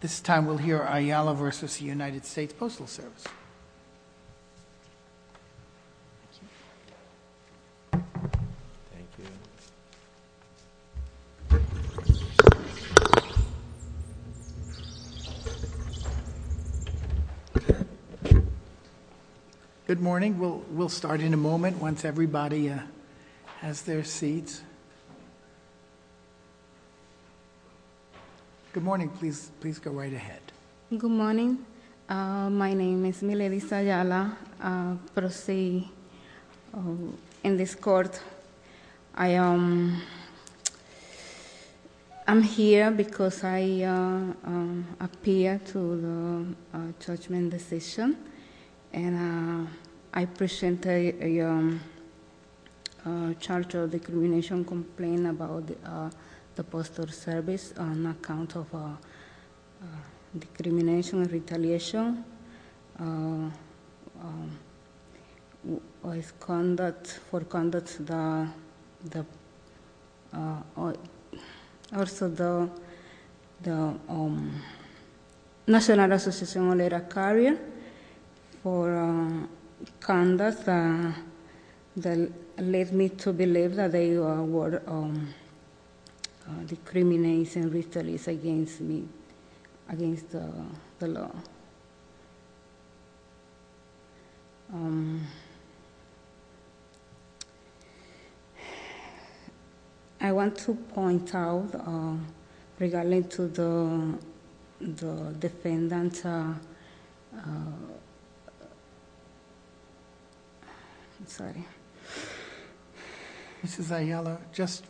This time we'll hear Ayala v. U.S. Postal Service. Good morning. We'll start in a moment once everybody has their seats. Good morning. Please go right ahead. Good morning. My name is Miledy Sayala. Proceed in this court. I am here because I appeared to the judgment decision and I presented a charge of decrimination complaint about the Postal Service on account of decrimination and retaliation. For conduct that led me to believe that they were decriminating and retaliating against me, against the law. I want to point out regarding to the defendant... So just tell us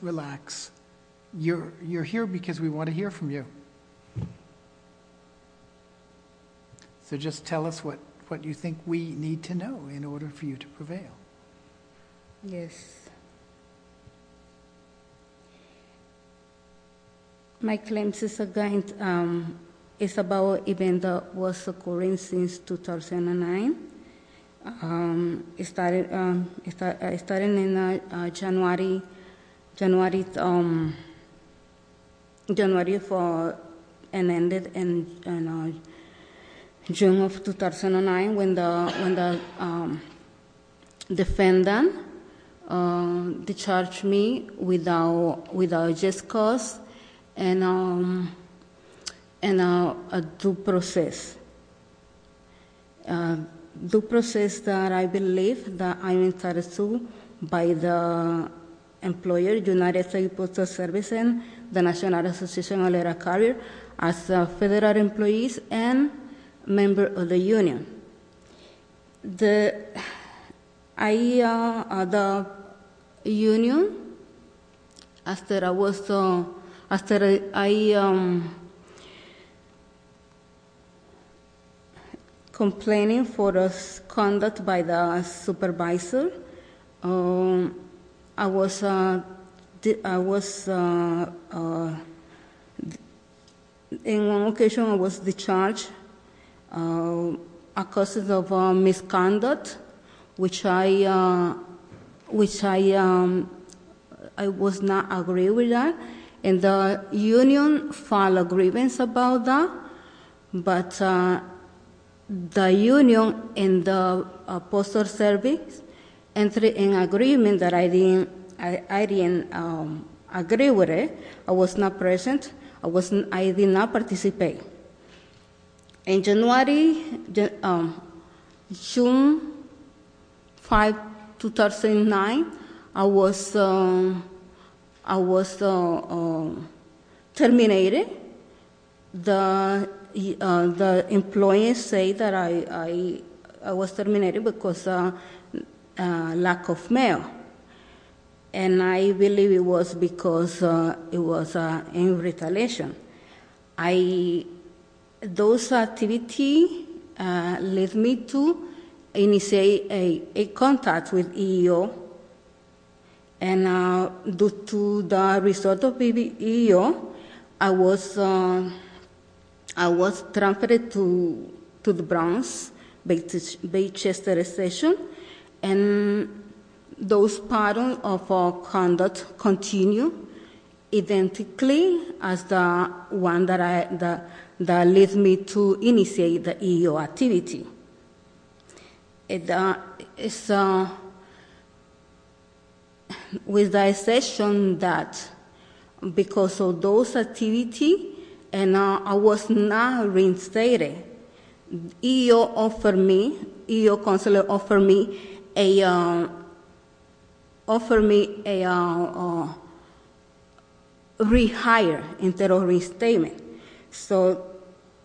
what you think we need to know in order for you to prevail. Yes. My claim is against... it's about an event that was occurring since 2009. It started in January and ended in June of 2009 when the defendant discharged me without just cause and due process. Due process that I believe that I am entitled to by the employer United Postal Service and the National Association of Letter Carriers as federal employees and member of the union. The... I... the union... after I was... after I... which I... which I... I was not agree with that and the union filed a grievance about that, but the union and the Postal Service entered an agreement that I didn't... I didn't agree with it. I was not present. I was... I did not participate. In January... June 5, 2009, I was... I was terminated. The... the employees say that I... I was terminated because of lack of mail and I believe it was because it was in retaliation. I... those activity led me to initiate a contact with EEO and due to the result of EEO, I was... I was transferred to the Bronx, Baychester Station, and those patterns of conduct continue identically as the one that I... that led me to initiate the EEO activity. It... it's... with the exception that because of those activity and I was not reinstated, EEO offered me... EEO counselor offered me a... offered me a... a rehire instead of reinstatement. So,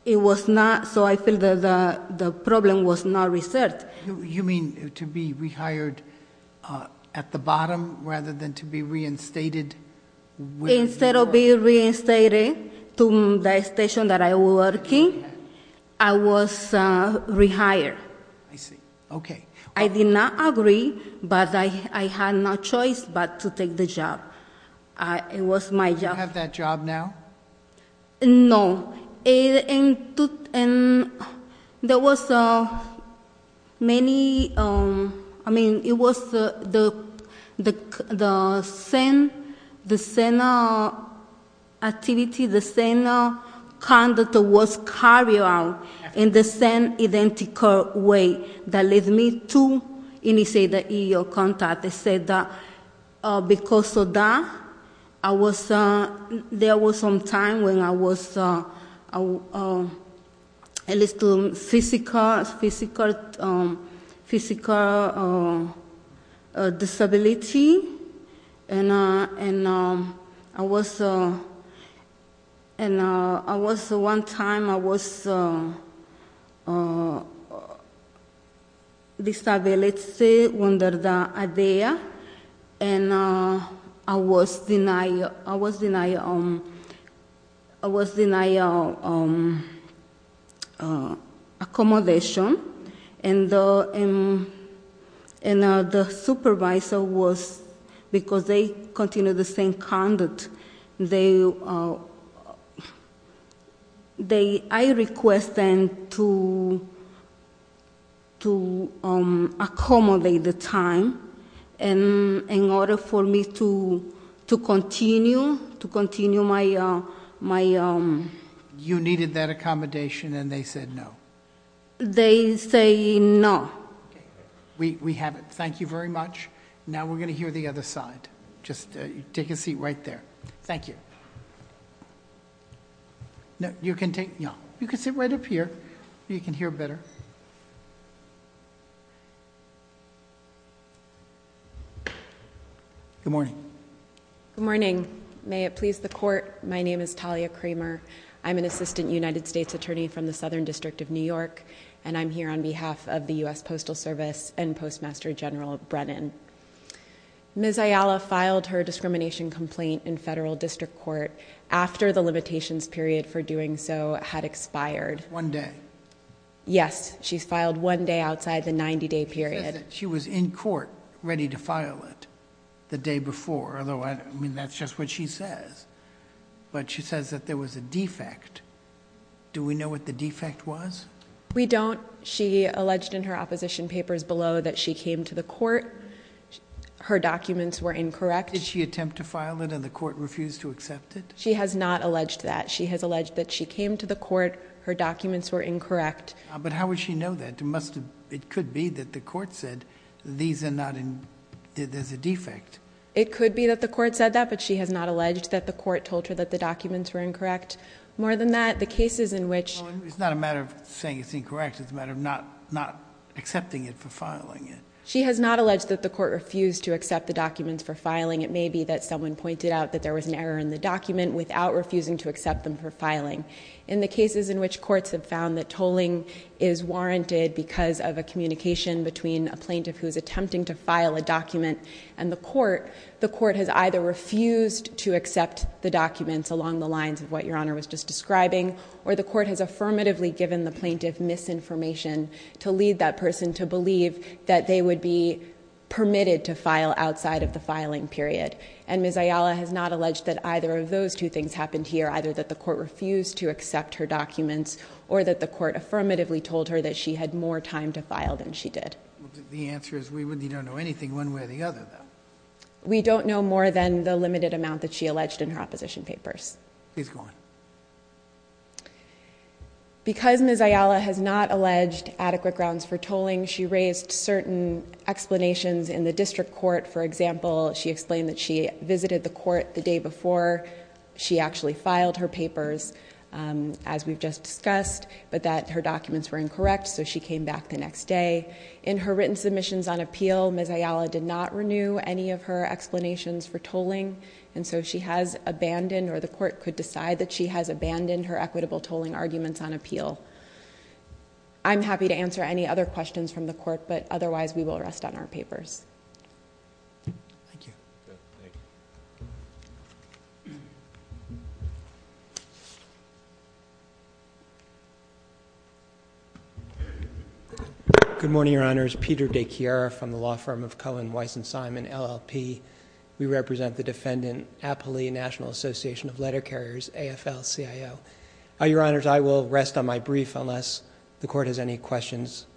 it was not... so, I feel that the problem was not resolved. You mean to be rehired at the bottom rather than to be reinstated... Instead of being reinstated to the station that I was working, I was rehired. I see. Okay. I did not agree, but I had no choice but to take the job. It was my job. Do you have that job now? No. It... and... and there was many... I mean, it was the... the... the same... the same activity, the same conduct was carried out in the same identical way that led me to initiate the EEO contact. They said that because of that, I was... there was some time when I was a little physical... physical... physical disability. And... and I was... and I was... one time I was...... and I was denied... I was denied... I was denied accommodation. And the... and the supervisor was... because they continued the same conduct. They... they... I request them to... to accommodate the time in order for me to... to continue... to continue my... my... You needed that accommodation and they said no. They say no. Okay. We... we have it. Thank you very much. Now we're going to hear the other side. Just take a seat right there. Thank you. You can take... yeah. You can sit right up here. You can hear better. Good morning. Good morning. May it please the court, my name is Talia Kramer. I'm an assistant United States attorney from the Southern District of New York and I'm here on behalf of the U.S. Postal Service and Postmaster General Brennan. Ms. Ayala filed her discrimination complaint in federal district court after the limitations period for doing so had expired. One day. Yes. She's filed one day outside the 90-day period. She was in court ready to file it the day before. I mean, that's just what she says. But she says that there was a defect. Do we know what the defect was? We don't. She alleged in her opposition papers below that she came to the court. Her documents were incorrect. Did she attempt to file it and the court refused to accept it? She has not alleged that. She has alleged that she came to the court. Her documents were incorrect. But how would she know that? It must have... it could be that the court said these are not... there's a defect. It could be that the court said that, but she has not alleged that the court told her that the documents were incorrect. More than that, the cases in which... It's not a matter of saying it's incorrect. It's a matter of not accepting it for filing it. She has not alleged that the court refused to accept the documents for filing. It may be that someone pointed out that there was an error in the document without refusing to accept them for filing. In the cases in which courts have found that tolling is warranted because of a communication between a plaintiff who is attempting to file a document and the court, the court has either refused to accept the documents along the lines of what Your Honor was just describing, or the court has affirmatively given the plaintiff misinformation to lead that person to believe that they would be permitted to file outside of the filing period. And Ms. Ayala has not alleged that either of those two things happened here, either that the court refused to accept her documents, or that the court affirmatively told her that she had more time to file than she did. The answer is we don't know anything one way or the other, though. We don't know more than the limited amount that she alleged in her opposition papers. Please go on. Because Ms. Ayala has not alleged adequate grounds for tolling, she raised certain explanations in the district court. For example, she explained that she visited the court the day before she actually filed her papers, as we've just discussed, but that her documents were incorrect, so she came back the next day. In her written submissions on appeal, Ms. Ayala did not renew any of her explanations for tolling, and so she has abandoned, or the court could decide that she has abandoned, her equitable tolling arguments on appeal. I'm happy to answer any other questions from the court, but otherwise we will rest on our papers. Thank you. Good morning, Your Honors. Peter DeChiara from the law firm of Cohen, Weiss, and Simon, LLP. We represent the defendant, Apolli, National Association of Letter Carriers, AFL-CIO. Your Honors, I will rest on my brief unless the court has any questions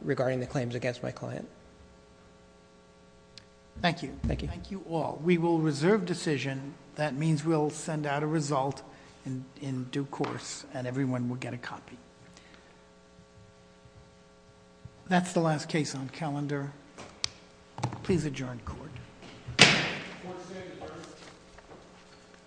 regarding the claims against my client. Thank you. Thank you. Thank you all. We will reserve decision. That means we'll send out a result in due course, and everyone will get a copy. That's the last case on calendar. Please adjourn court.